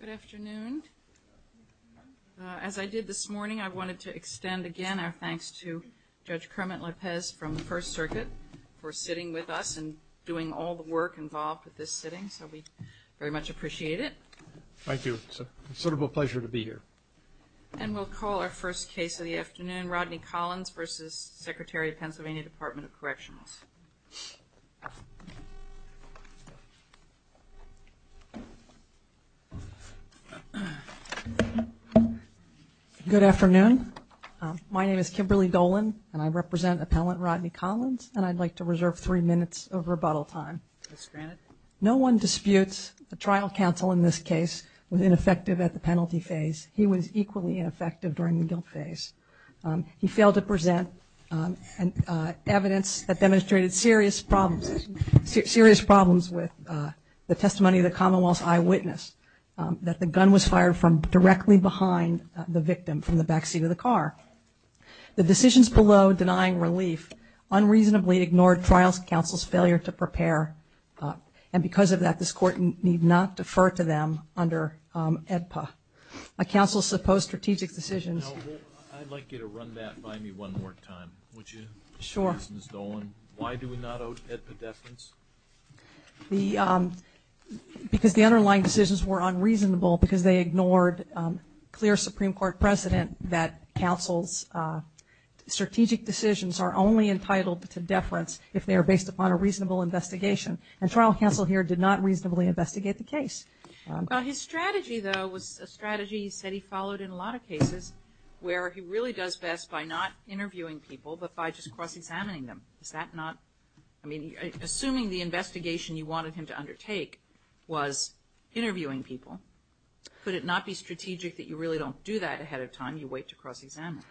Good afternoon. As I did this morning, I wanted to extend again our thanks to Judge Kermit Lopez from the First Circuit for sitting with us and doing all the work involved with this sitting, so we very much appreciate it. Thank you. It's a considerable pleasure to be here. And we'll call our first case of the afternoon, Rodney Collins v. Secretary of PA Dept of Corrections. Good afternoon. My name is Kimberly Dolan and I represent Appellant Rodney Collins and I'd like to reserve three minutes of rebuttal time. No one disputes the trial counsel in this case was ineffective at the penalty phase. He was equally ineffective during the problems with the testimony of the commonwealth's eyewitness that the gun was fired from directly behind the victim from the backseat of the car. The decisions below denying relief unreasonably ignored trial counsel's failure to prepare and because of that this court need not defer to them under AEDPA. A counsel's supposed strategic decisions. I'd like you to run the because the underlying decisions were unreasonable because they ignored clear Supreme Court precedent that counsel's strategic decisions are only entitled to deference if they are based upon a reasonable investigation and trial counsel here did not reasonably investigate the case. His strategy though was a strategy he said he followed in a lot of cases where he really does best by not interviewing people but by just cross-examining them. Is that not I mean assuming the investigation you wanted him to undertake was interviewing people could it not be strategic that you really don't do that ahead of time you wait to cross-examine?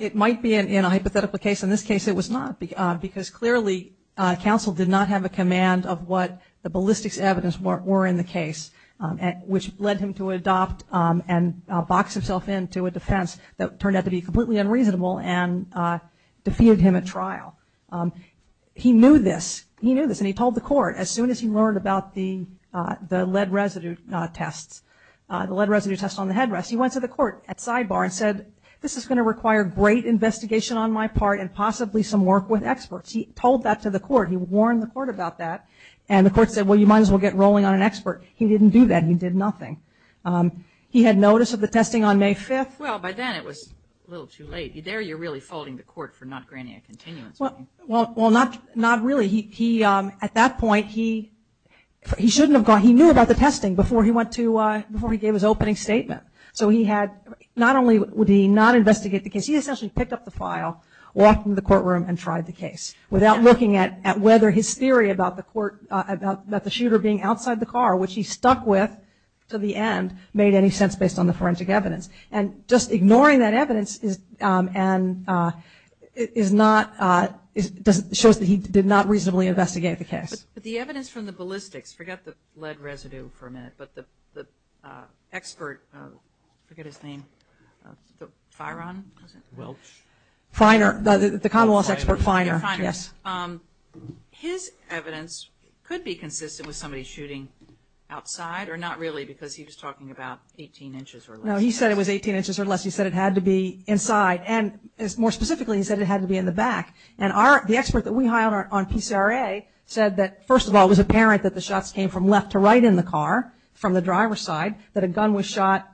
It might be in a hypothetical case in this case it was not because clearly counsel did not have a command of what the ballistics evidence were in the case which led him to adopt and box himself into a defense that turned out to be completely unreasonable and he knew this he knew this and he told the court as soon as he learned about the lead residue tests on the headrest he went to the court at sidebar and said this is going to require great investigation on my part and possibly some work with experts he told that to the court he warned the court about that and the court said well you might as well get rolling on an expert he didn't do that he did nothing. He had notice of the testing on May 5th well by then it was a little too late there you're really folding the court for not granting a continuance well not really he at that point he shouldn't have gone he knew about the testing before he went to before he gave his opening statement so he had not only would he not investigate the case he essentially picked up the file walked into the courtroom and tried the case without looking at whether his theory about the court about the shooter being outside the car which he stuck with to the end made any sense based on the forensic evidence and just ignoring that evidence is and it is not it shows that he did not reasonably investigate the case. But the evidence from the ballistics forget the lead residue for a minute but the expert forget his name Firon was it? Welch. Finer the commonwealth expert Finer yes. His evidence could be consistent with somebody shooting outside or not really because he was talking about 18 inches or less. No he said it was 18 inches or less he said it had to be inside and more specifically he said it had to be in the back and our the expert that we hired on PCRA said that first of all it was apparent that the shots came from left to right in the car from the driver's side that a gun was shot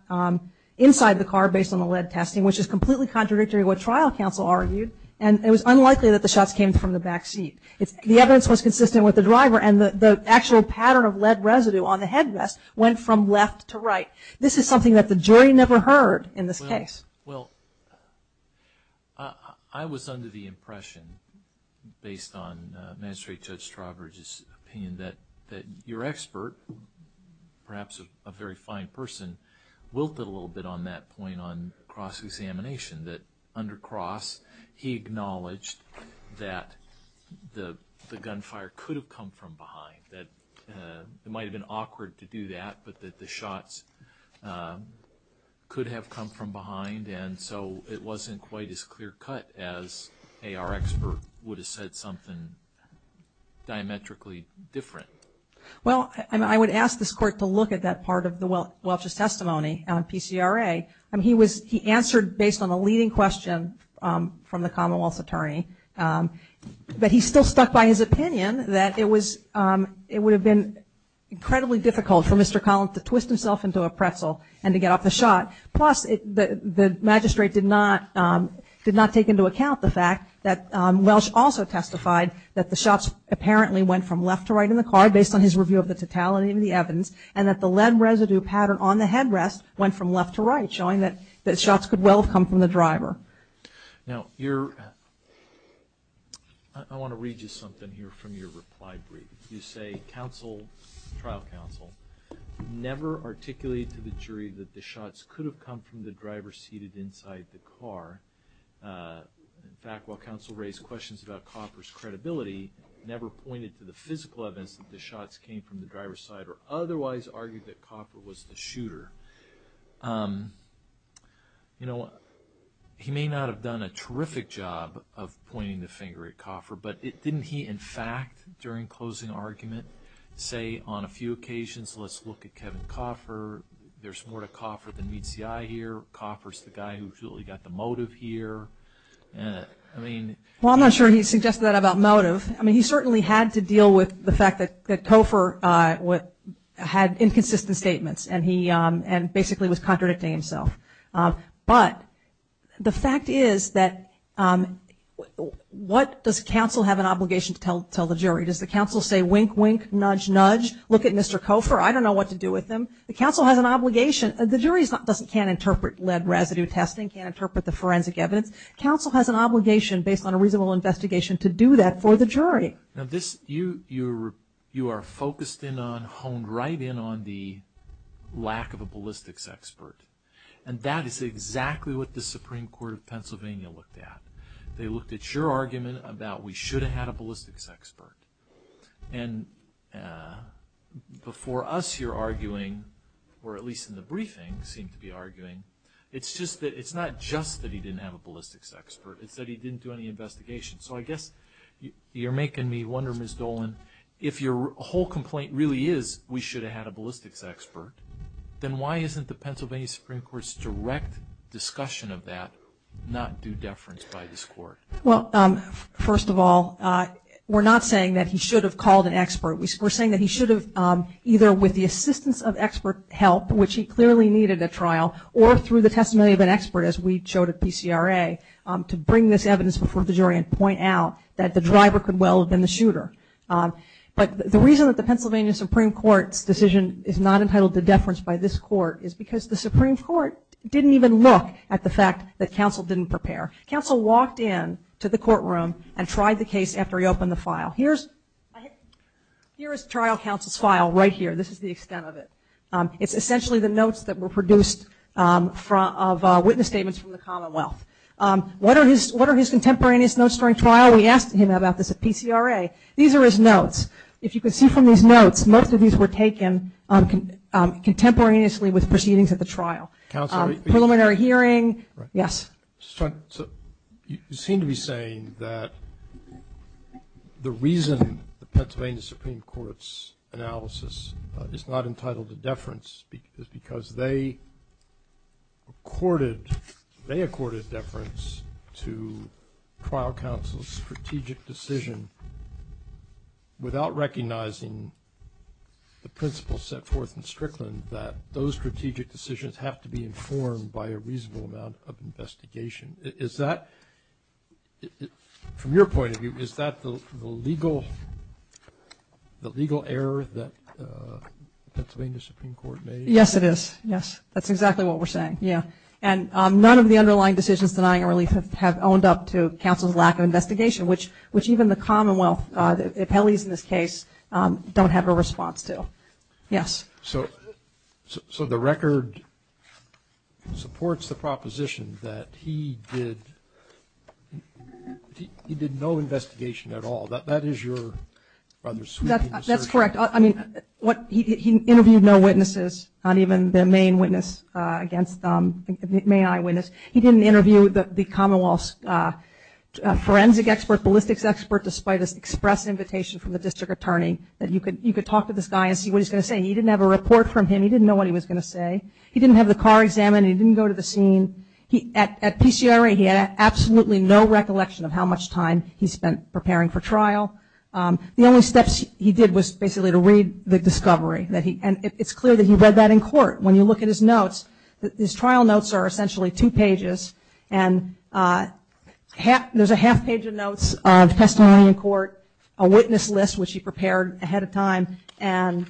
inside the car based on the lead testing which is completely contradictory what trial counsel argued and it was unlikely that the shots came from the back seat. The evidence was consistent with the driver and the actual pattern of lead residue on the headrest went from left to right. This is something that the jury never heard in this case. Well I was under the impression based on magistrate judge Strowbridge's opinion that your expert perhaps a very fine person wilted a little bit on that point on cross gunfire could have come from behind that it might have been awkward to do that but that the shots could have come from behind and so it wasn't quite as clear cut as our expert would have said something diametrically different. Well I would ask this court to look at that part of the Welch's testimony on PCRA. He answered based on a leading question from the commonwealth's attorney but he still stuck by his opinion that it was it would have been incredibly difficult for Mr. Collins to twist himself into a pretzel and to get off the shot plus the magistrate did not take into account the fact that Welch also testified that the shots apparently went from left to right in the car based on his review of the totality of the evidence and that the lead residue pattern on the headrest went from left to right showing that shots could well have come from the driver. Now I want to read you something here from your reply brief. You say trial counsel never articulated to the jury that the shots could have come from the driver seated inside the car. In fact while counsel raised questions about Copper's credibility never pointed to the physical evidence that the shots came from the driver's side or otherwise argued that Copper was the driver. You know he may not have done a terrific job of pointing the finger at Copper but didn't he in fact during closing argument say on a few occasions let's look at Kevin Copper there's more to Copper than meets the eye here. Copper's the guy who really got the motive here. I mean. Well I'm not sure he suggested that about motive. I mean he certainly had to deal with the fact that Copper had inconsistent statements and he basically was contradicting himself. But the fact is that what does counsel have an obligation to tell the jury? Does the counsel say wink wink, nudge nudge, look at Mr. Copper, I don't know what to do with him. The counsel has an obligation. The jury can't interpret lead residue testing, can't interpret the forensic evidence. Counsel has an obligation based on a reasonable investigation to do that for the jury. Now this, you are focused in on, honed right in on the lack of a ballistics expert. And that is exactly what the Supreme Court of Pennsylvania looked at. They looked at your argument about we should have had a ballistics expert. And before us you're arguing, or at least in the briefing seem to be arguing, it's not just that he didn't have a ballistics expert, it's that he didn't do any investigation. So I guess you're making me wonder Ms. Dolan, if your whole complaint really is we should have had a ballistics expert, then why isn't the Pennsylvania Supreme Court's direct discussion of that not due deference by this court? Well first of all, we're not saying that he should have called an expert. We're saying that he should have either with the assistance of expert help, which he clearly needed at the DCRA, to bring this evidence before the jury and point out that the driver could well have been the shooter. But the reason that the Pennsylvania Supreme Court's decision is not entitled to deference by this court is because the Supreme Court didn't even look at the fact that counsel didn't prepare. Counsel walked in to the courtroom and tried the case after he opened the file. Here is trial counsel's file right here. This is the extent of it. It's essentially the notes that were produced of witness statements from the commonwealth. What are his contemporaneous notes during trial? We asked him about this at PCRA. These are his notes. If you can see from these notes, most of these were taken contemporaneously with proceedings at the trial, preliminary hearing, yes. You seem to be saying that the reason the Pennsylvania Supreme Court's analysis is not entitled to deference is because they accorded deference to trial counsel's strategic decision without recognizing the principles set forth in Strickland that those strategic decisions have to be informed by a reasonable amount of investigation. Is that, from your point of view, correct? Yes, it is. That's exactly what we're saying. And none of the underlying decisions denying a relief have owned up to counsel's lack of investigation, which even the commonwealth, the appellees in this case, don't have a response to. Yes. So the record supports the proposition that he did no investigation at all. That is your That's correct. I mean, he interviewed no witnesses, not even the main eyewitness. He didn't interview the commonwealth's forensic expert, ballistics expert, despite an express invitation from the district attorney that you could talk to this guy and see what he's going to say. He didn't have a report from him. He didn't know what he was going to say. He didn't have the car examined. He didn't go to the scene. At PCRA, he had absolutely no recollection of how much time he spent preparing for trial. The only steps he did was basically to read the discovery. And it's clear that he read that in court. When you look at his notes, his trial notes are essentially two pages. And there's a half page of notes of testimony in court, a witness list, which he prepared ahead of time, and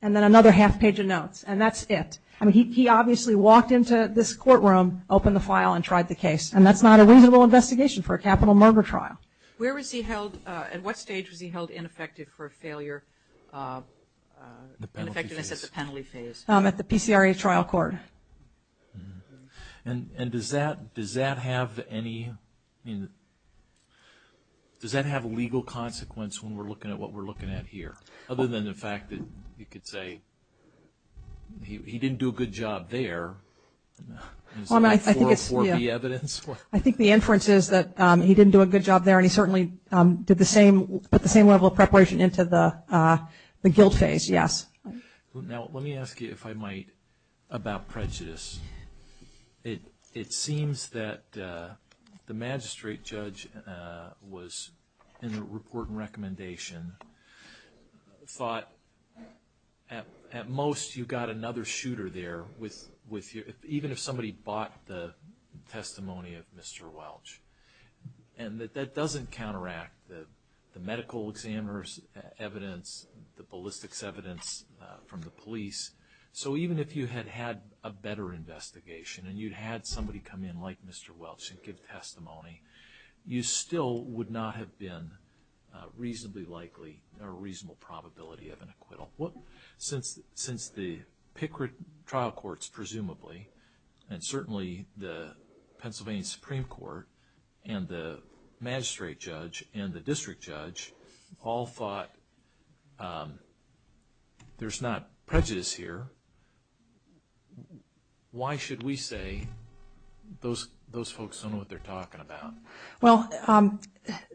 then another half page of notes. And that's it. I mean, he obviously walked into this courtroom, opened the file, and tried the case. And that's not a reasonable investigation for a capital murder trial. Where was he held? At what stage was he held ineffective for failure? Ineffectiveness at the penalty phase. At the PCRA trial court. And does that have any, does that have a legal consequence when we're looking at what we're looking at here? Other than the fact that you could say he didn't do a good job there. I think the inference is that he didn't do a good job there, and he certainly did the same, put the same level of preparation into the guilt phase, yes. Now, let me ask you, if I might, about prejudice. It seems that the magistrate judge was, in the report and recommendation, thought at most you got another shooter there, even if somebody bought the testimony of Mr. Welch. And that that doesn't counteract the medical examiner's evidence, the ballistics evidence from the police. So even if you had had a better investigation, and you'd had somebody come in like Mr. Welch and give testimony, you still would not have been reasonably likely, or a reasonable probability of an acquittal. Since the PCRA trial courts, presumably, and certainly the Pennsylvania Supreme Court, and the magistrate judge, and the district judge all thought there's not prejudice here, why should we say those folks don't know what they're talking about? Well,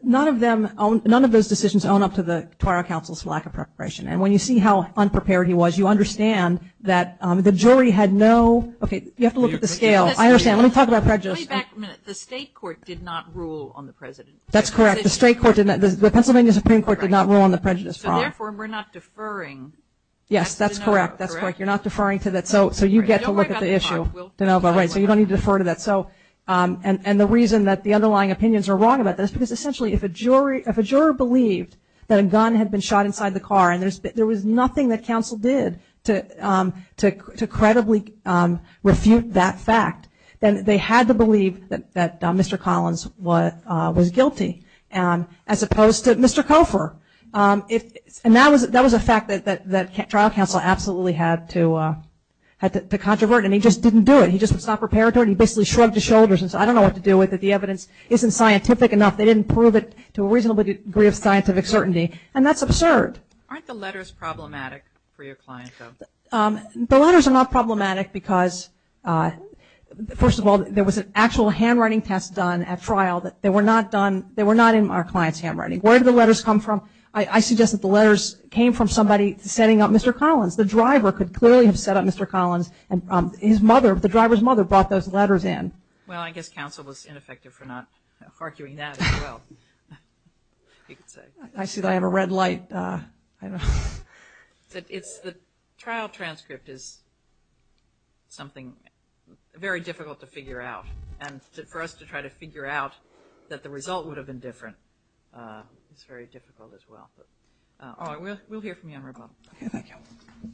none of them, none of those decisions own up to the trial counsel's lack of preparation. And when you see how unprepared he was, you understand that the jury had no, okay, you have to look at the scale. I understand, let me talk about prejudice. Let me back a minute. The state court did not rule on the prejudice. That's correct. The state court, the Pennsylvania Supreme Court did not rule on the prejudice. So therefore, we're not deferring. Yes, that's correct. That's correct. You're not deferring to that. So you get to look at the issue. Don't worry about the car. We'll find one. Right, so you don't need to defer to that. So, and the reason that the underlying opinions are wrong about this, because essentially, if a jury, if a juror believed that a gun had been shot inside the car, and there was nothing that counsel did to credibly refute that fact, then they had to believe that Mr. Collins was guilty, as opposed to Mr. Cofer. And that was a fact that trial counsel absolutely had to controvert, and he just didn't do it. He just was not prepared for it. He basically shrugged his shoulders and said, I don't know what to do with it. The evidence isn't scientific enough. They didn't prove it to a reasonable degree of scientific certainty, and that's absurd. Aren't the letters problematic for your client, though? The letters are not problematic because, first of all, there was an actual handwriting test done at trial that they were not done, they were not in our client's handwriting. Where did the letters come from? I suggest that the letters came from somebody setting up Mr. Collins. The driver could clearly have set up Mr. Collins, and his mother, the driver's mother brought those letters in. Well, I guess counsel was ineffective for not arguing that as well. I see that I have a red light. The trial transcript is something very difficult to figure out, and for us to try to figure out that the result would have been different is very difficult as well. We'll hear from you on rebuttal. Okay, thank you. Thank you.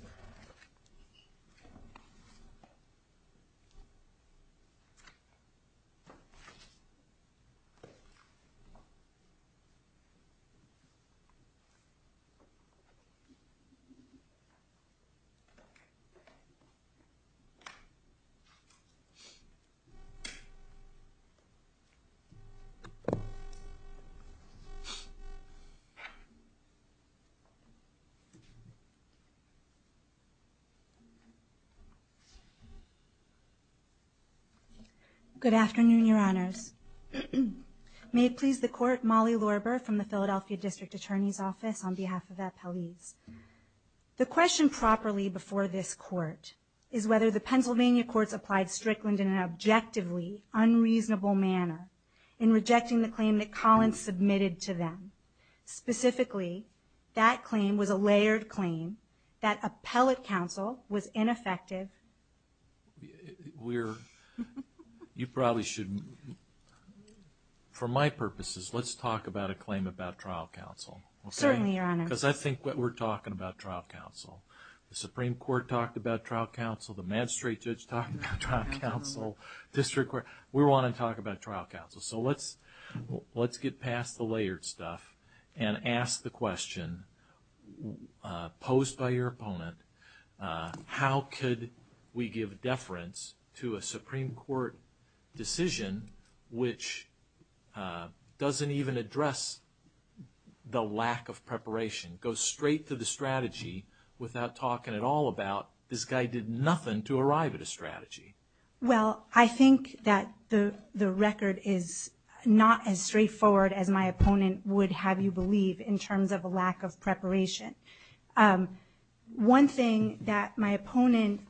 Good afternoon, your honors. May it please the court, Molly Lorber from the Philadelphia District Attorney's Office on behalf of the appellees. The question properly before this court is whether the Pennsylvania courts applied Strickland in an objectively unreasonable manner in rejecting the claim that Collins submitted to them. Specifically, that claim was a layered claim that appellate counsel was ineffective. We're, you probably should, for my purposes, let's talk about a claim about trial counsel. Certainly, your honors. Because I think what we're talking about trial counsel, the Supreme Court talked about trial counsel, the magistrate judge talked about trial counsel, district court, we want to talk about trial counsel. So let's get past the layered stuff and ask the question posed by your opponent, how could we give deference to a Supreme Court decision which doesn't even address the lack of preparation, goes straight to the strategy without talking at all about this guy did nothing to arrive at a strategy. Well, I think that the record is not as straightforward as my opponent would have you believe in terms of a lack of preparation. One thing that my opponent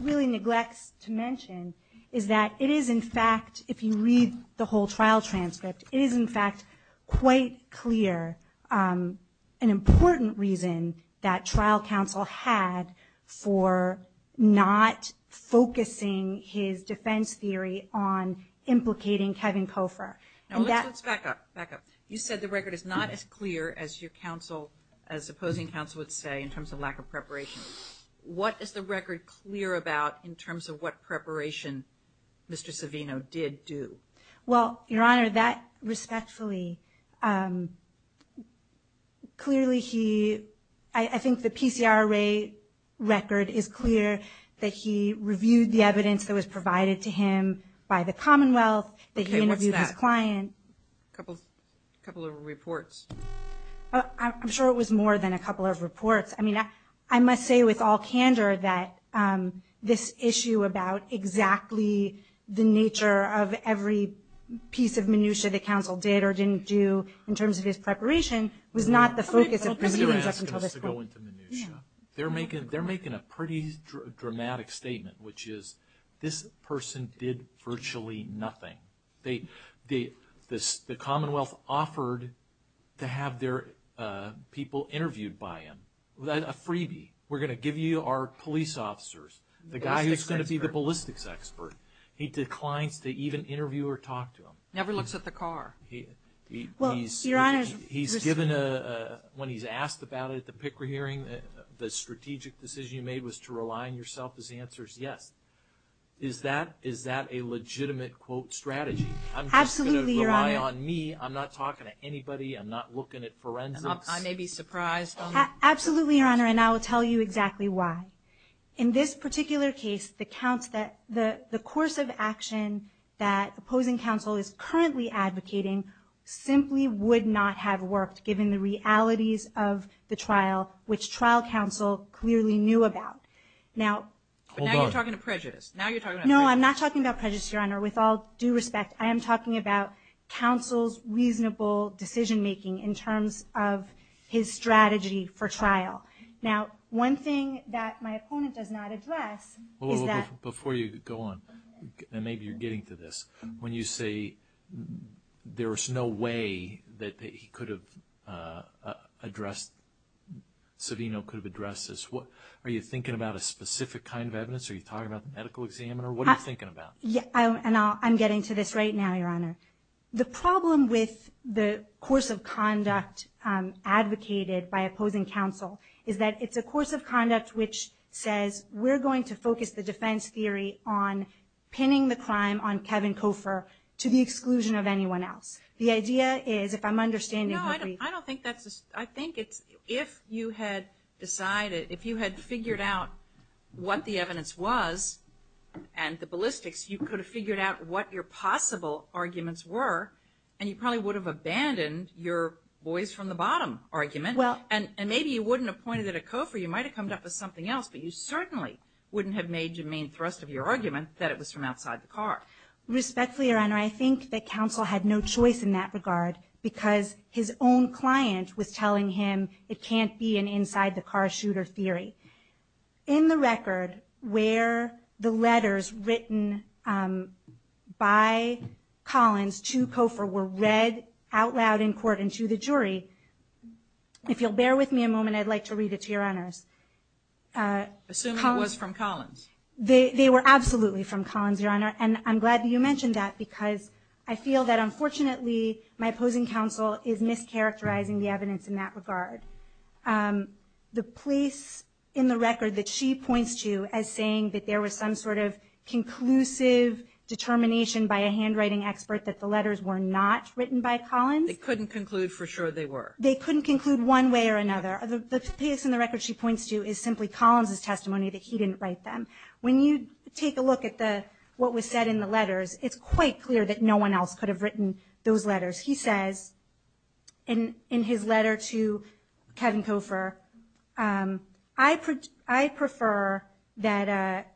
really neglects to mention is that it is in fact, if you read the whole trial transcript, it is in fact quite clear an important reason that trial counsel had for not focusing his defense theory on implicating Kevin Koffer. Now let's back up, back up. You said the record is not as clear as your counsel, as opposing counsel would say in terms of lack of preparation. What is the record clear about in terms of what preparation Mr. Savino did do? Well, your honor, that respectfully, clearly he, I think the PCR array record is clear that he reviewed the evidence that was provided to him by the commonwealth. Okay, what's that? That he interviewed his client. A couple of reports. I'm sure it was more than a couple of reports. I mean, I must say with all candor that this issue about exactly the nature of every piece of minutiae the counsel did or didn't do in terms of his preparation was not the focus of proceedings up until this point. Yeah. They're making a pretty dramatic statement, which is this person did virtually nothing. The commonwealth offered to have their people interviewed by him, a freebie. We're going to give you our police officers. The guy who's going to be the ballistics expert. He declines to even interview or talk to him. Never looks at the car. He's given a, when he's asked about it at the PICRA hearing, the strategic decision you made was to rely on yourself as the answer is yes. Is that a legitimate quote strategy? Absolutely, your honor. I'm just going to rely on me. I'm not talking to anybody. I'm not looking at forensics. I may be surprised. Absolutely, your honor, and I will tell you exactly why. In this particular case, the course of action that opposing counsel is currently advocating simply would not have worked given the realities of the trial, which trial counsel clearly knew about. Now you're talking to prejudice. No, I'm not talking about prejudice, your honor. With all due respect, I am talking about counsel's reasonable decision making in terms of his strategy for trial. Now, one thing that my opponent does not address is that... there was no way that he could have addressed, Savino could have addressed this. Are you thinking about a specific kind of evidence? Are you talking about the medical examiner? What are you thinking about? I'm getting to this right now, your honor. The problem with the course of conduct advocated by opposing counsel is that it's a course of conduct which says we're going to focus the defense theory on pinning the crime on Kevin Koffer to the exclusion of anyone else. The idea is, if I'm understanding you... No, I don't think that's... I think it's if you had decided, if you had figured out what the evidence was and the ballistics, you could have figured out what your possible arguments were, and you probably would have abandoned your boys from the bottom argument. And maybe you wouldn't have pointed at Koffer. You might have come up with something else, but you certainly wouldn't have made your main thrust of your argument that it was from outside the car. Respectfully, your honor, I think that counsel had no choice in that regard because his own client was telling him it can't be an inside-the-car-shooter theory. In the record where the letters written by Collins to Koffer were read out loud in court and to the jury, if you'll bear with me a moment, I'd like to read it to your honors. Assume it was from Collins. They were absolutely from Collins, your honor, and I'm glad that you mentioned that because I feel that, unfortunately, my opposing counsel is mischaracterizing the evidence in that regard. The place in the record that she points to as saying that there was some sort of conclusive determination by a handwriting expert that the letters were not written by Collins... They couldn't conclude for sure they were. They couldn't conclude one way or another. The place in the record she points to is simply Collins' testimony that he didn't write them. When you take a look at what was said in the letters, it's quite clear that no one else could have written those letters. He says in his letter to Kevin Koffer, I prefer that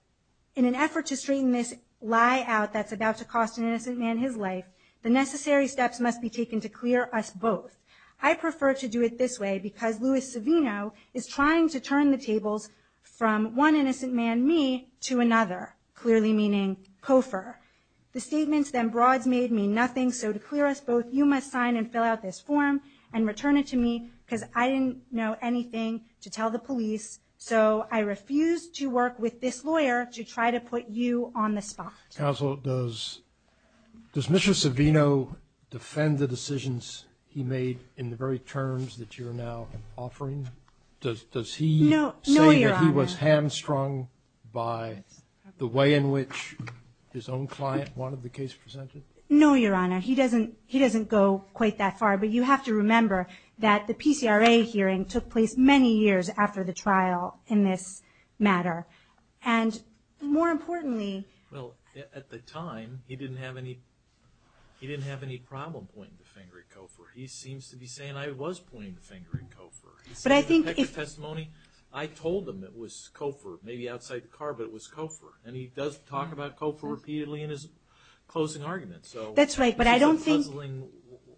in an effort to straighten this lie out that's about to cost an innocent man his life, the necessary steps must be taken to clear us both. I prefer to do it this way because Louis Savino is trying to turn the tables from one innocent man, me, to another, clearly meaning Koffer. The statements then broads made me nothing, so to clear us both you must sign and fill out this form and return it to me because I didn't know anything to tell the police, so I refuse to work with this lawyer to try to put you on the spot. Counsel, does Mr. Savino defend the decisions he made in the very terms that you're now offering? Does he say that he was hamstrung by the way in which his own client wanted the case presented? No, Your Honor. He doesn't go quite that far, but you have to remember that the PCRA hearing took place many years after the trial in this matter. And more importantly... Well, at the time, he didn't have any problem pointing the finger at Koffer. He seems to be saying I was pointing the finger at Koffer. But I think... He said in the text of testimony, I told him it was Koffer, maybe outside the car, but it was Koffer. And he does talk about Koffer repeatedly in his closing argument, so... That's right, but I don't think... It's a puzzling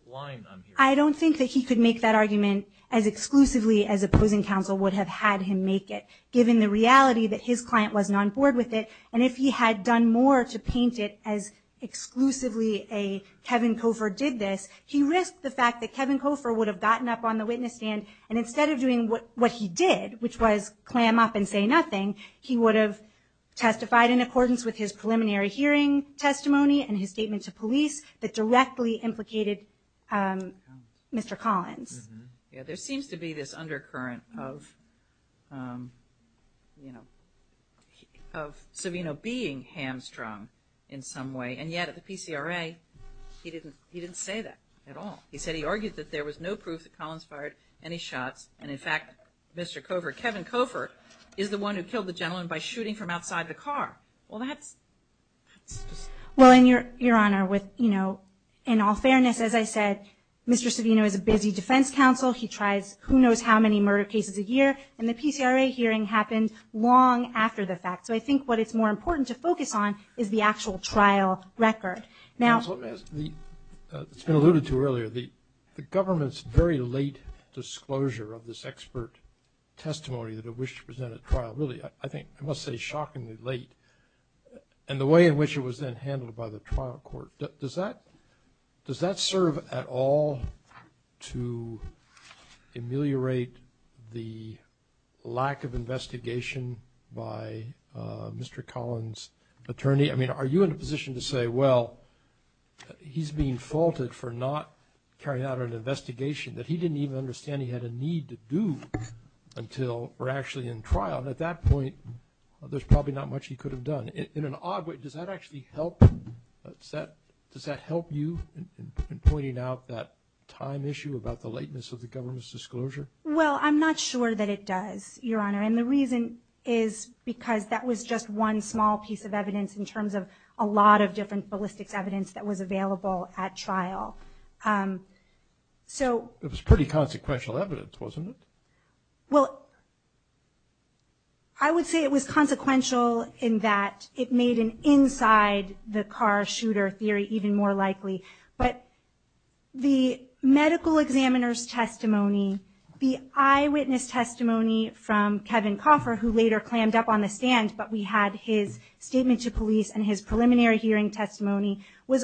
line I'm hearing. I don't think that he could make that argument as exclusively as opposing counsel would have had him make it given the reality that his client wasn't on board with it. And if he had done more to paint it as exclusively a Kevin Koffer did this, he risked the fact that Kevin Koffer would have gotten up on the witness stand and instead of doing what he did, which was clam up and say nothing, he would have testified in accordance with his preliminary hearing testimony and his statement to police that directly implicated Mr. Collins. Yeah, there seems to be this undercurrent of, you know, of Savino being hamstrung in some way. And yet at the PCRA, he didn't say that at all. He said he argued that there was no proof that Collins fired any shots, and in fact, Mr. Koffer, Kevin Koffer, is the one who killed the gentleman by shooting from outside the car. Well, that's... Well, and Your Honor, with, you know, in all fairness, as I said, Mr. Savino is a busy defense counsel. He tries who knows how many murder cases a year. And the PCRA hearing happened long after the fact. So I think what it's more important to focus on is the actual trial record. Counsel, it's been alluded to earlier. The government's very late disclosure of this expert testimony that it wished to present at trial, really, I think, I must say, shockingly late, and the way in which it was then handled by the trial court, does that serve at all to ameliorate the lack of investigation by Mr. Collins' attorney? I mean, are you in a position to say, well, he's being faulted for not carrying out an investigation that he didn't even understand he had a need to do until we're actually in trial? And at that point, there's probably not much he could have done. In an odd way, does that actually help? Does that help you in pointing out that time issue about the lateness of the government's disclosure? Well, I'm not sure that it does, Your Honor. And the reason is because that was just one small piece of evidence in terms of a lot of different ballistics evidence that was available at trial. It was pretty consequential evidence, wasn't it? Well, I would say it was consequential in that it made an inside-the-car-shooter theory even more likely. But the medical examiner's testimony, the eyewitness testimony from Kevin Coffer, who later clammed up on the stand, but we had his statement to police and his preliminary hearing testimony, where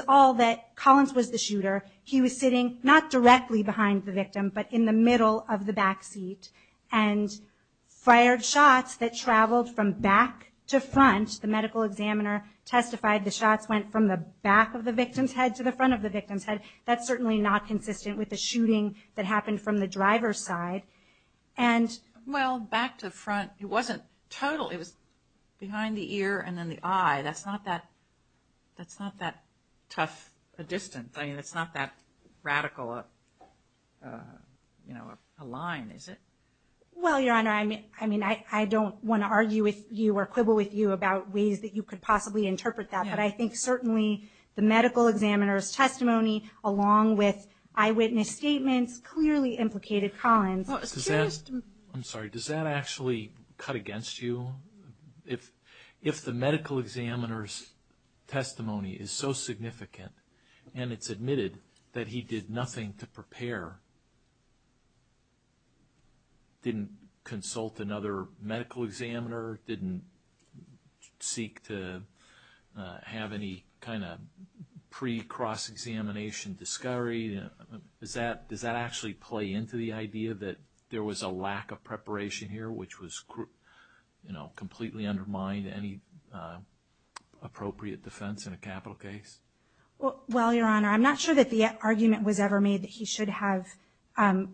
he was sitting not directly behind the victim but in the middle of the backseat and fired shots that traveled from back to front. The medical examiner testified the shots went from the back of the victim's head to the front of the victim's head. That's certainly not consistent with the shooting that happened from the driver's side. Well, back to front, it wasn't total. It was behind the ear and then the eye. That's not that tough a distance. I mean, it's not that radical a line, is it? Well, Your Honor, I mean, I don't want to argue with you or quibble with you about ways that you could possibly interpret that, but I think certainly the medical examiner's testimony along with eyewitness statements clearly implicated Collins. I'm sorry, does that actually cut against you? If the medical examiner's testimony is so significant and it's admitted that he did nothing to prepare, didn't consult another medical examiner, didn't seek to have any kind of pre-cross-examination discovery, does that actually play into the idea that there was a lack of preparation here, which would completely undermine any appropriate defense in a capital case? Well, Your Honor, I'm not sure that the argument was ever made that he should have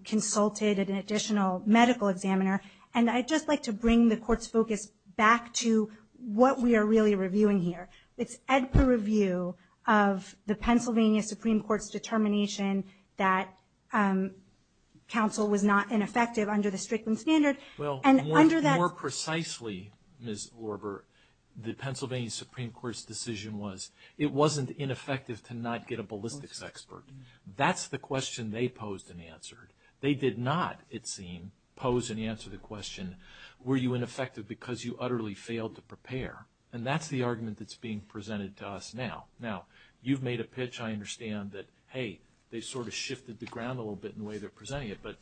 consulted an additional medical examiner, and I'd just like to bring the Court's focus back to what we are really reviewing here. It's at the review of the Pennsylvania Supreme Court's determination that counsel was not ineffective under the Strickland Standard. Well, more precisely, Ms. Orber, the Pennsylvania Supreme Court's decision was, it wasn't ineffective to not get a ballistics expert. That's the question they posed and answered. They did not, it seemed, pose and answer the question, were you ineffective because you utterly failed to prepare? And that's the argument that's being presented to us now. Now, you've made a pitch, I understand, that, hey, they've sort of shifted the ground a little bit in the way they're presenting it, but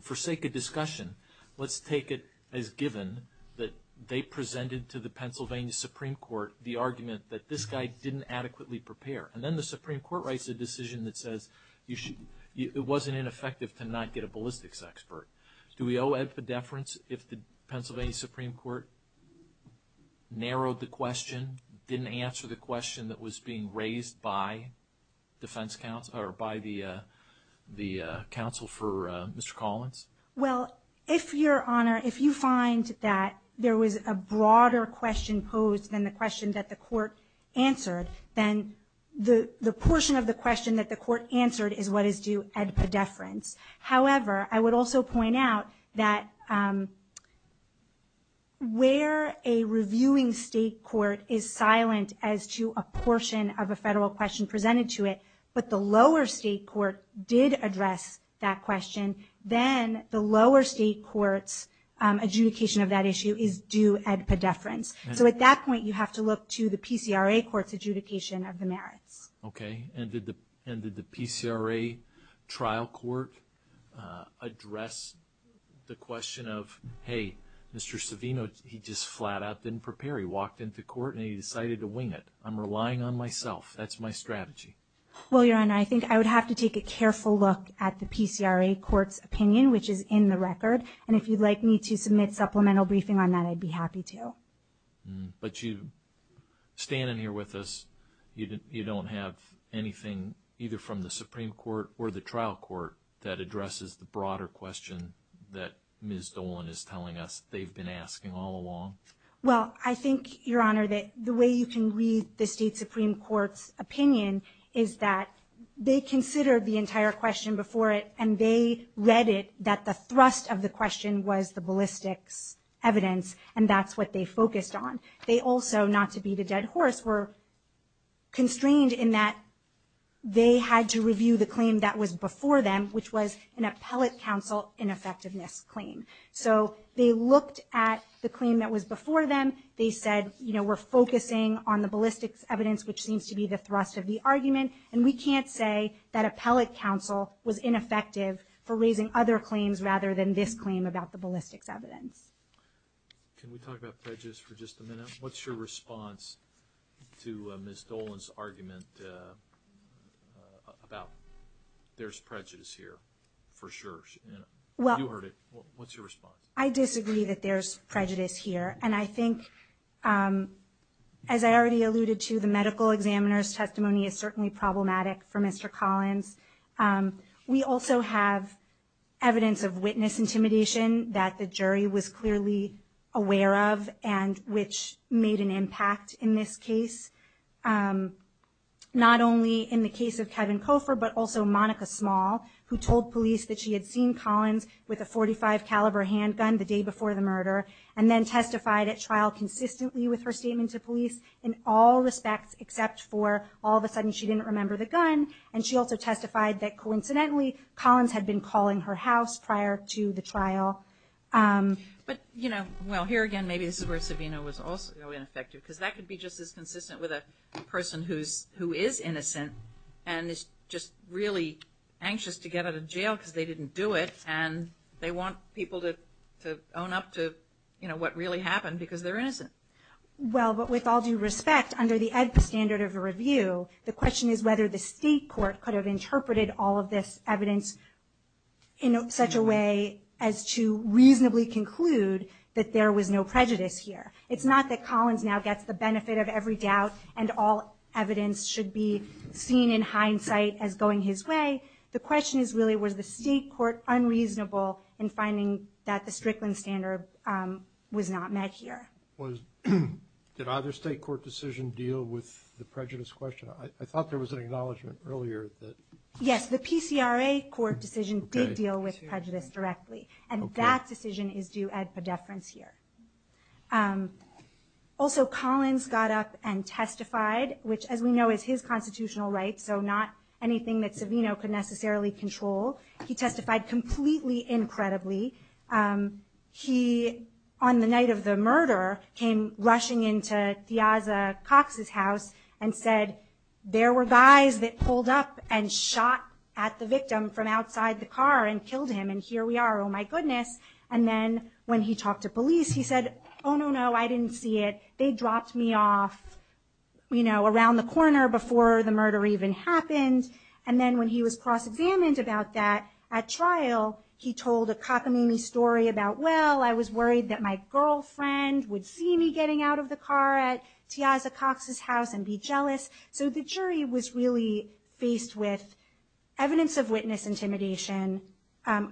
for sake of discussion, let's take it as given that they presented to the Pennsylvania Supreme Court the argument that this guy didn't adequately prepare. And then the Supreme Court writes a decision that says it wasn't ineffective to not get a ballistics expert. Do we owe edpedeference if the Pennsylvania Supreme Court narrowed the question, didn't answer the question that was being raised by defense counsel, or by the counsel for Mr. Collins? Well, if, Your Honor, if you find that there was a broader question posed than the question that the court answered, then the portion of the question that the court answered is what is due edpedeference. However, I would also point out that where a reviewing state court is silent as to a portion of a federal question presented to it, but the lower state court did address that question, then the lower state court's adjudication of that issue is due edpedeference. So at that point, you have to look to the PCRA court's adjudication of the merits. Okay. And did the PCRA trial court address the question of, hey, Mr. Savino, he just flat out didn't prepare. He walked into court and he decided to wing it. I'm relying on myself. That's my strategy. Well, Your Honor, I think I would have to take a careful look at the PCRA court's opinion, which is in the record. And if you'd like me to submit supplemental briefing on that, I'd be happy to. But you stand in here with us. You don't have anything either from the Supreme Court or the trial court that addresses the broader question that Ms. Dolan is telling us they've been asking all along? Well, I think, Your Honor, that the way you can read the state Supreme Court's opinion is that they considered the entire question before it, and they read it that the thrust of the question was the ballistics evidence, and that's what they focused on. They also, not to beat a dead horse, were constrained in that they had to review the claim that was before them, which was an appellate counsel ineffectiveness claim. So they looked at the claim that was before them. They said, you know, we're focusing on the ballistics evidence, which seems to be the thrust of the argument, and we can't say that appellate counsel was ineffective for raising other claims rather than this claim about the ballistics evidence. Can we talk about prejudice for just a minute? What's your response to Ms. Dolan's argument about there's prejudice here for sure? You heard it. What's your response? I disagree that there's prejudice here, and I think, as I already alluded to, the medical examiner's testimony is certainly problematic for Mr. Collins. We also have evidence of witness intimidation that the jury was clearly aware of and which made an impact in this case, not only in the case of Kevin Cofer but also Monica Small, who told police that she had seen Collins with a .45 caliber handgun the day before the murder and then testified at trial consistently with her statement to police in all respects except for all of a sudden she didn't remember the gun, and she also testified that coincidentally Collins had been calling her house prior to the trial. But, you know, well, here again maybe this is where Savino was also ineffective because that could be just as consistent with a person who is innocent and is just really anxious to get out of jail because they didn't do it and they want people to own up to, you know, what really happened because they're innocent. Well, but with all due respect, under the AEDPA standard of review, the question is whether the state court could have interpreted all of this evidence in such a way as to reasonably conclude that there was no prejudice here. It's not that Collins now gets the benefit of every doubt and all evidence should be seen in hindsight as going his way. The question is really was the state court unreasonable in finding that the Strickland standard was not met here. Did either state court decision deal with the prejudice question? I thought there was an acknowledgment earlier that... Yes, the PCRA court decision did deal with prejudice directly, and that decision is due AEDPA deference here. Also, Collins got up and testified, which as we know is his constitutional right, so not anything that Savino could necessarily control. He testified completely incredibly. He, on the night of the murder, came rushing into Tiaza Cox's house and said, there were guys that pulled up and shot at the victim from outside the car and killed him, and here we are, oh my goodness. And then when he talked to police, he said, oh no, no, I didn't see it. They dropped me off, you know, around the corner before the murder even happened. And then when he was cross-examined about that at trial, he told a cockamamie story about, well, I was worried that my girlfriend would see me getting out of the car at Tiaza Cox's house and be jealous. So the jury was really faced with evidence of witness intimidation,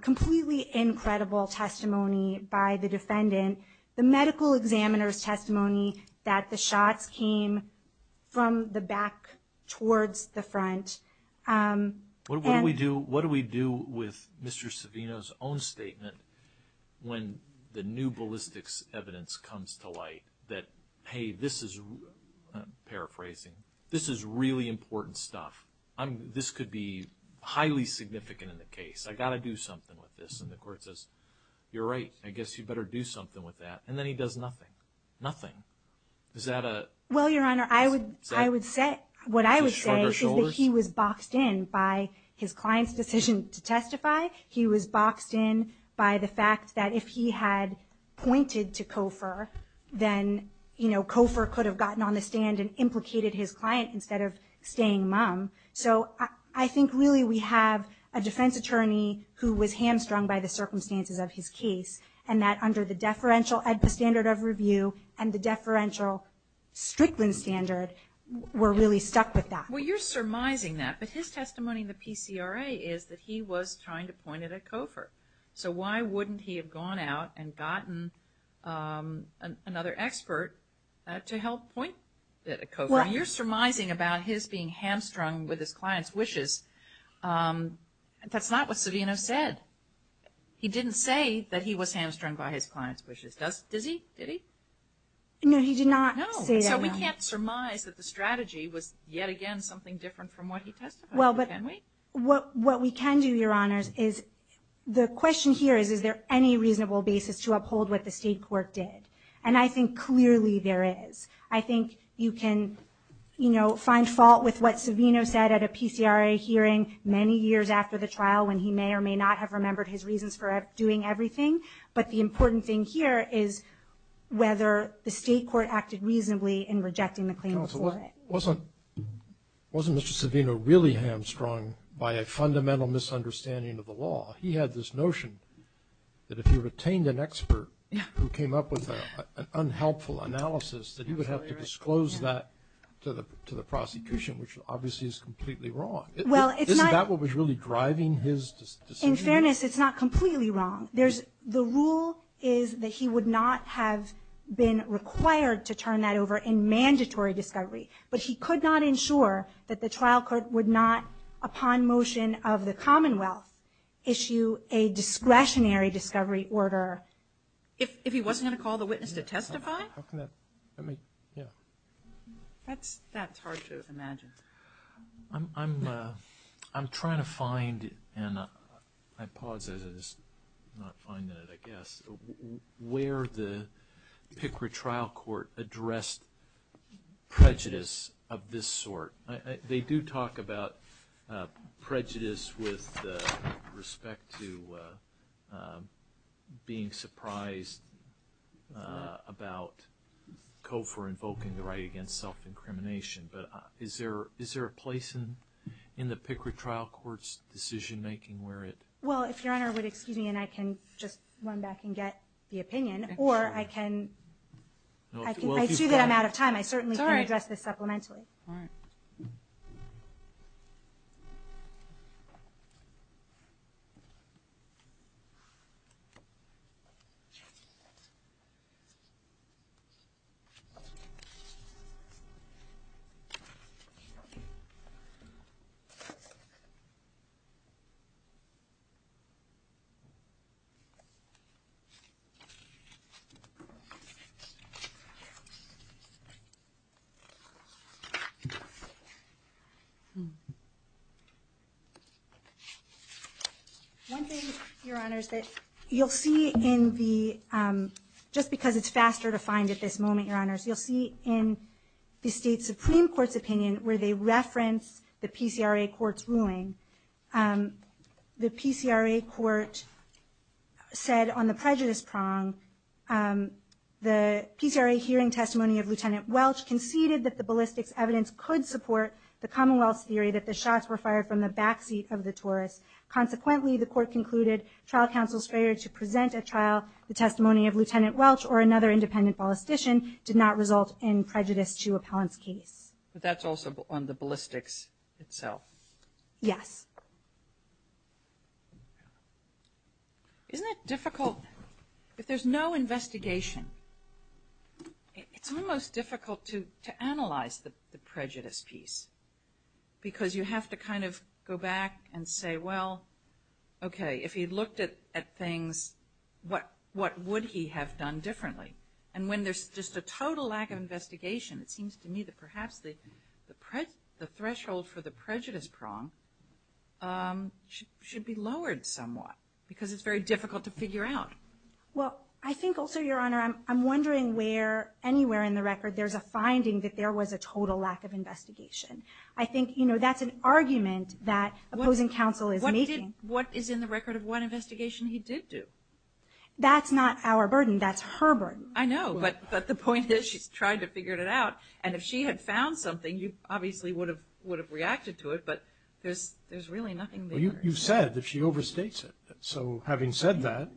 completely incredible testimony by the defendant, the medical examiner's testimony that the shots came from the back towards the front. What do we do with Mr. Savino's own statement when the new ballistics evidence comes to light that, hey, this is, paraphrasing, this is really important stuff. This could be highly significant in the case. I've got to do something with this. And the court says, you're right, I guess you'd better do something with that. And then he does nothing, nothing. Is that a? Well, Your Honor, I would say what I would say is that he was boxed in by his client's decision to testify. He was boxed in by the fact that if he had pointed to Kofor, then, you know, Kofor could have gotten on the stand and implicated his client instead of staying mum. So I think really we have a defense attorney who was hamstrung by the circumstances of his case, and that under the deferential standard of review and the deferential Strickland standard, we're really stuck with that. Well, you're surmising that. But his testimony in the PCRA is that he was trying to point at Kofor. So why wouldn't he have gone out and gotten another expert to help point at Kofor? You're surmising about his being hamstrung with his client's wishes. That's not what Savino said. He didn't say that he was hamstrung by his client's wishes. Does he? Did he? No, he did not say that. No. So we can't surmise that the strategy was yet again something different from what he testified. Well, but what we can do, Your Honors, is the question here is, is there any reasonable basis to uphold what the state court did? And I think clearly there is. I think you can, you know, find fault with what Savino said at a PCRA hearing many years after the trial when he may or may not have remembered his reasons for doing everything. But the important thing here is whether the state court acted reasonably in rejecting the claim before it. Wasn't Mr. Savino really hamstrung by a fundamental misunderstanding of the law? He had this notion that if he retained an expert who came up with an unhelpful analysis, that he would have to disclose that to the prosecution, which obviously is completely wrong. Isn't that what was really driving his decision? In fairness, it's not completely wrong. The rule is that he would not have been required to turn that over in mandatory discovery. But he could not ensure that the trial court would not, upon motion of the Commonwealth, issue a discretionary discovery order. If he wasn't going to call the witness to testify? That's hard to imagine. I'm trying to find, and I pause as I'm not finding it, I guess, where the PCRA trial court addressed prejudice of this sort. They do talk about prejudice with respect to being surprised about COFR invoking the right against self-incrimination. But is there a place in the PCRA trial court's decision-making where it? Well, if Your Honor would excuse me, and I can just run back and get the opinion, or I can assume that I'm out of time. I certainly can address this supplementarily. All right. Thank you. One thing, Your Honor, is that you'll see in the, just because it's faster to find at this moment, Your Honor, you'll see in the State Supreme Court's opinion where they reference the PCRA court's ruling. The PCRA court said on the prejudice prong, the PCRA hearing testimony of Lieutenant Welch conceded that the ballistics evidence could support the Commonwealth's theory that the shots were fired from the backseat of the Taurus. Consequently, the court concluded trial counsel's failure to present at trial the testimony of Lieutenant Welch or another independent ballistician did not result in prejudice to appellant's case. But that's also on the ballistics itself. Yes. Isn't it difficult, if there's no investigation, it's almost difficult to analyze the prejudice piece, because you have to kind of go back and say, well, okay, if he looked at things, what would he have done differently? And when there's just a total lack of investigation, it seems to me that perhaps the threshold for the prejudice prong should be lowered somewhat, because it's very difficult to figure out. Well, I think also, Your Honor, I'm wondering where anywhere in the record there's a finding that there was a total lack of investigation. I think, you know, that's an argument that opposing counsel is making. What is in the record of what investigation he did do? That's not our burden. That's her burden. I know, but the point is she's tried to figure it out, and if she had found something, you obviously would have reacted to it, but there's really nothing there. Well, you said that she overstates it. So having said that,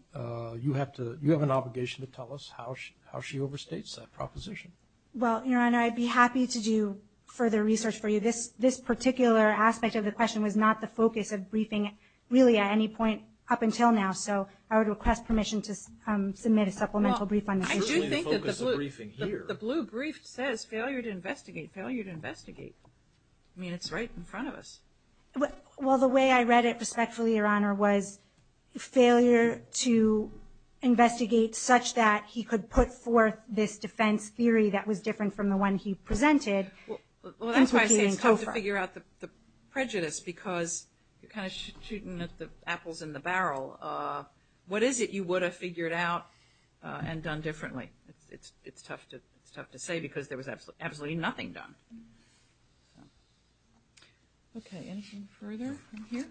you have an obligation to tell us how she overstates that proposition. Well, Your Honor, I'd be happy to do further research for you. This particular aspect of the question was not the focus of briefing really at any point up until now, so I would request permission to submit a supplemental brief on this issue. I do think that the blue brief says failure to investigate, failure to investigate. I mean, it's right in front of us. Well, the way I read it respectfully, Your Honor, was failure to investigate such that he could put forth this defense theory that was different from the one he presented. Well, that's why I say it's tough to figure out the prejudice because you're kind of shooting at the apples in the barrel. What is it you would have figured out and done differently? It's tough to say because there was absolutely nothing done. Okay, anything further from here?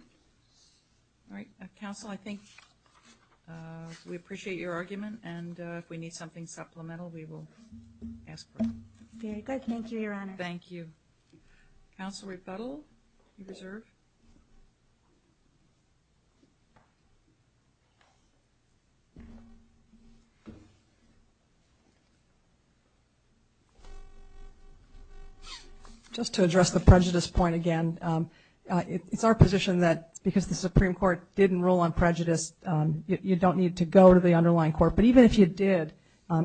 All right, counsel, I think we appreciate your argument, and if we need something supplemental, we will ask for it. Very good. Thank you, Your Honor. Thank you. Counsel Repetil, you're reserved. Just to address the prejudice point again, it's our position that because the Supreme Court didn't rule on prejudice, you don't need to go to the underlying court. But even if you did,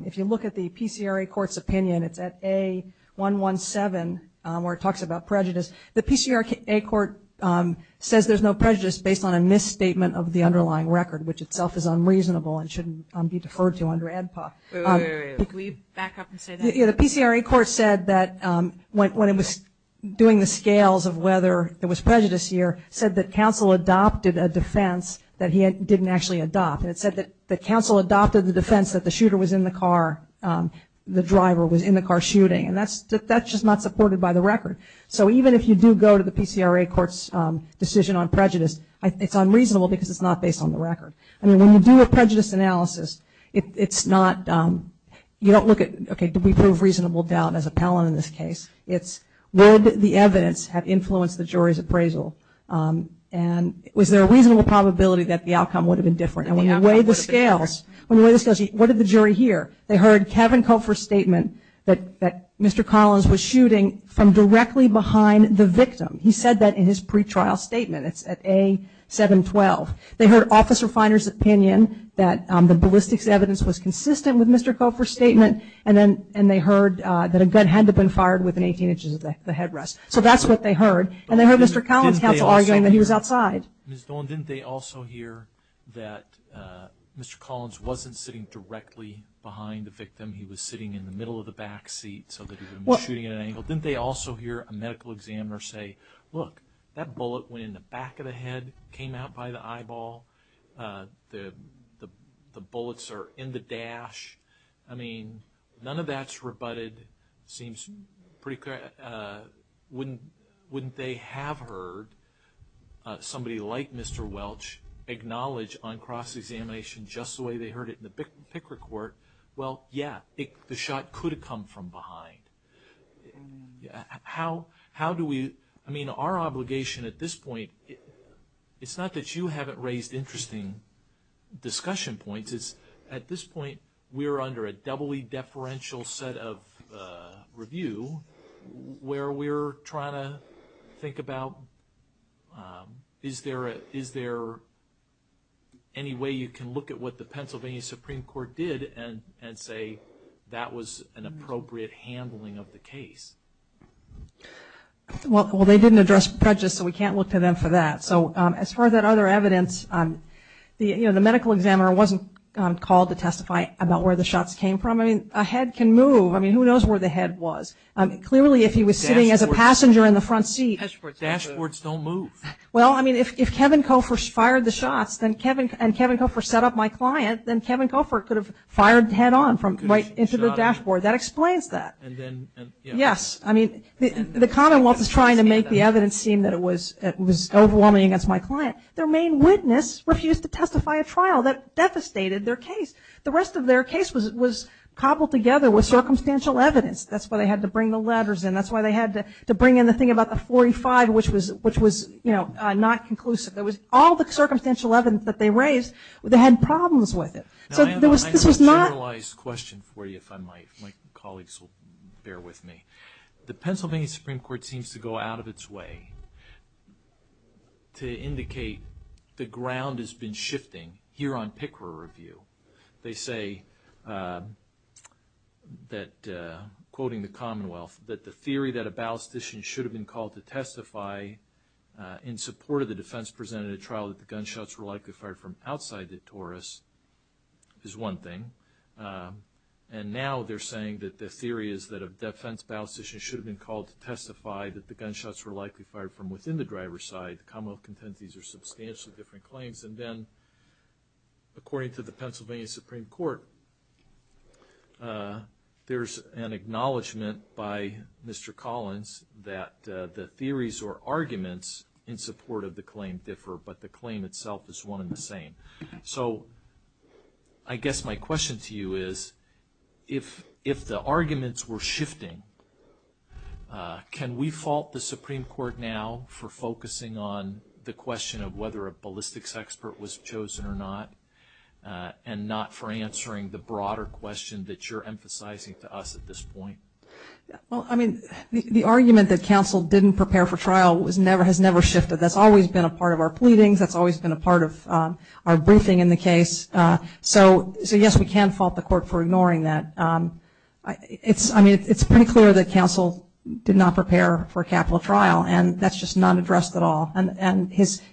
if you look at the PCRA court's opinion, it's at A117 where it talks about prejudice. The PCRA court says there's no prejudice based on a misstatement of the underlying record, which itself is unreasonable and shouldn't be deferred to under AEDPA. Wait, wait, wait. Can we back up and say that? Yeah, the PCRA court said that when it was doing the scales of whether there was prejudice here, said that counsel adopted a defense that he didn't actually adopt. And it said that counsel adopted the defense that the shooter was in the car, the driver was in the car shooting. And that's just not supported by the record. So even if you do go to the PCRA court's decision on prejudice, it's unreasonable because it's not based on the record. I mean, when you do a prejudice analysis, it's not, you don't look at, okay, did we prove reasonable doubt as appellant in this case? It's would the evidence have influenced the jury's appraisal, and was there a reasonable probability that the outcome would have been different? And when you weigh the scales, when you weigh the scales, what did the jury hear? They heard Kevin Cofer's statement that Mr. Collins was shooting from directly behind the victim. He said that in his pretrial statement. It's at A712. They heard Officer Finer's opinion that the ballistics evidence was consistent with Mr. Cofer's statement, and they heard that a gun had to have been fired within 18 inches of the headrest. So that's what they heard. And they heard Mr. Collins' counsel arguing that he was outside. Ms. Dolan, didn't they also hear that Mr. Collins wasn't sitting directly behind the victim? He was sitting in the middle of the back seat so that he was shooting at an angle? Didn't they also hear a medical examiner say, look, that bullet went in the back of the head, came out by the eyeball. The bullets are in the dash. I mean, none of that's rebutted. It seems pretty clear. Wouldn't they have heard somebody like Mr. Welch acknowledge on cross-examination, just the way they heard it in the Picker Court, well, yeah, the shot could have come from behind. How do we, I mean, our obligation at this point, it's not that you haven't raised interesting discussion points. At this point, we're under a doubly deferential set of review where we're trying to think about, is there any way you can look at what the Pennsylvania Supreme Court did and say that was an appropriate handling of the case? Well, they didn't address prejudice, so we can't look to them for that. So as far as that other evidence, the medical examiner wasn't called to testify about where the shots came from. I mean, a head can move. I mean, who knows where the head was. Clearly, if he was sitting as a passenger in the front seat. Dashboards don't move. Well, I mean, if Kevin Koffer fired the shots and Kevin Koffer set up my client, then Kevin Koffer could have fired head on right into the dashboard. That explains that. Yes. I mean, the Commonwealth is trying to make the evidence seem that it was overwhelming against my client. Their main witness refused to testify at trial. That devastated their case. The rest of their case was cobbled together with circumstantial evidence. That's why they had to bring the letters in. That's why they had to bring in the thing about the 45, which was not conclusive. All the circumstantial evidence that they raised, they had problems with it. Now, I have a generalized question for you, if I might. My colleagues will bear with me. The Pennsylvania Supreme Court seems to go out of its way to indicate the ground has been shifting here on Picker Review. They say that, quoting the Commonwealth, that the theory that a ballistician should have been called to testify in support of the defense presented at trial that the gunshots were likely fired from outside the Taurus is one thing. And now they're saying that the theory is that a defense ballistician should have been called to testify that the gunshots were likely fired from within the driver's side. The Commonwealth contends these are substantially different claims. And then, according to the Pennsylvania Supreme Court, there's an acknowledgment by Mr. Collins that the theories or arguments in support of the claim differ, but the claim itself is one and the same. So I guess my question to you is, if the arguments were shifting, can we fault the Supreme Court now for focusing on the question of whether a ballistics expert was chosen or not, and not for answering the broader question that you're emphasizing to us at this point? Well, I mean, the argument that counsel didn't prepare for trial has never shifted. That's always been a part of our pleadings. That's always been a part of our briefing in the case. So, yes, we can fault the court for ignoring that. I mean, it's pretty clear that counsel did not prepare for capital trial, and that's just not addressed at all. And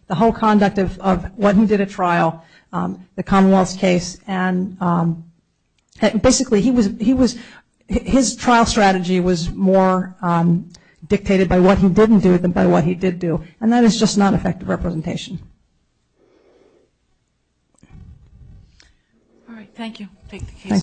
the whole conduct of what he did at trial, the Commonwealth's case, and basically his trial strategy was more dictated by what he didn't do than by what he did do. And that is just not effective representation. All right, thank you. Take the case.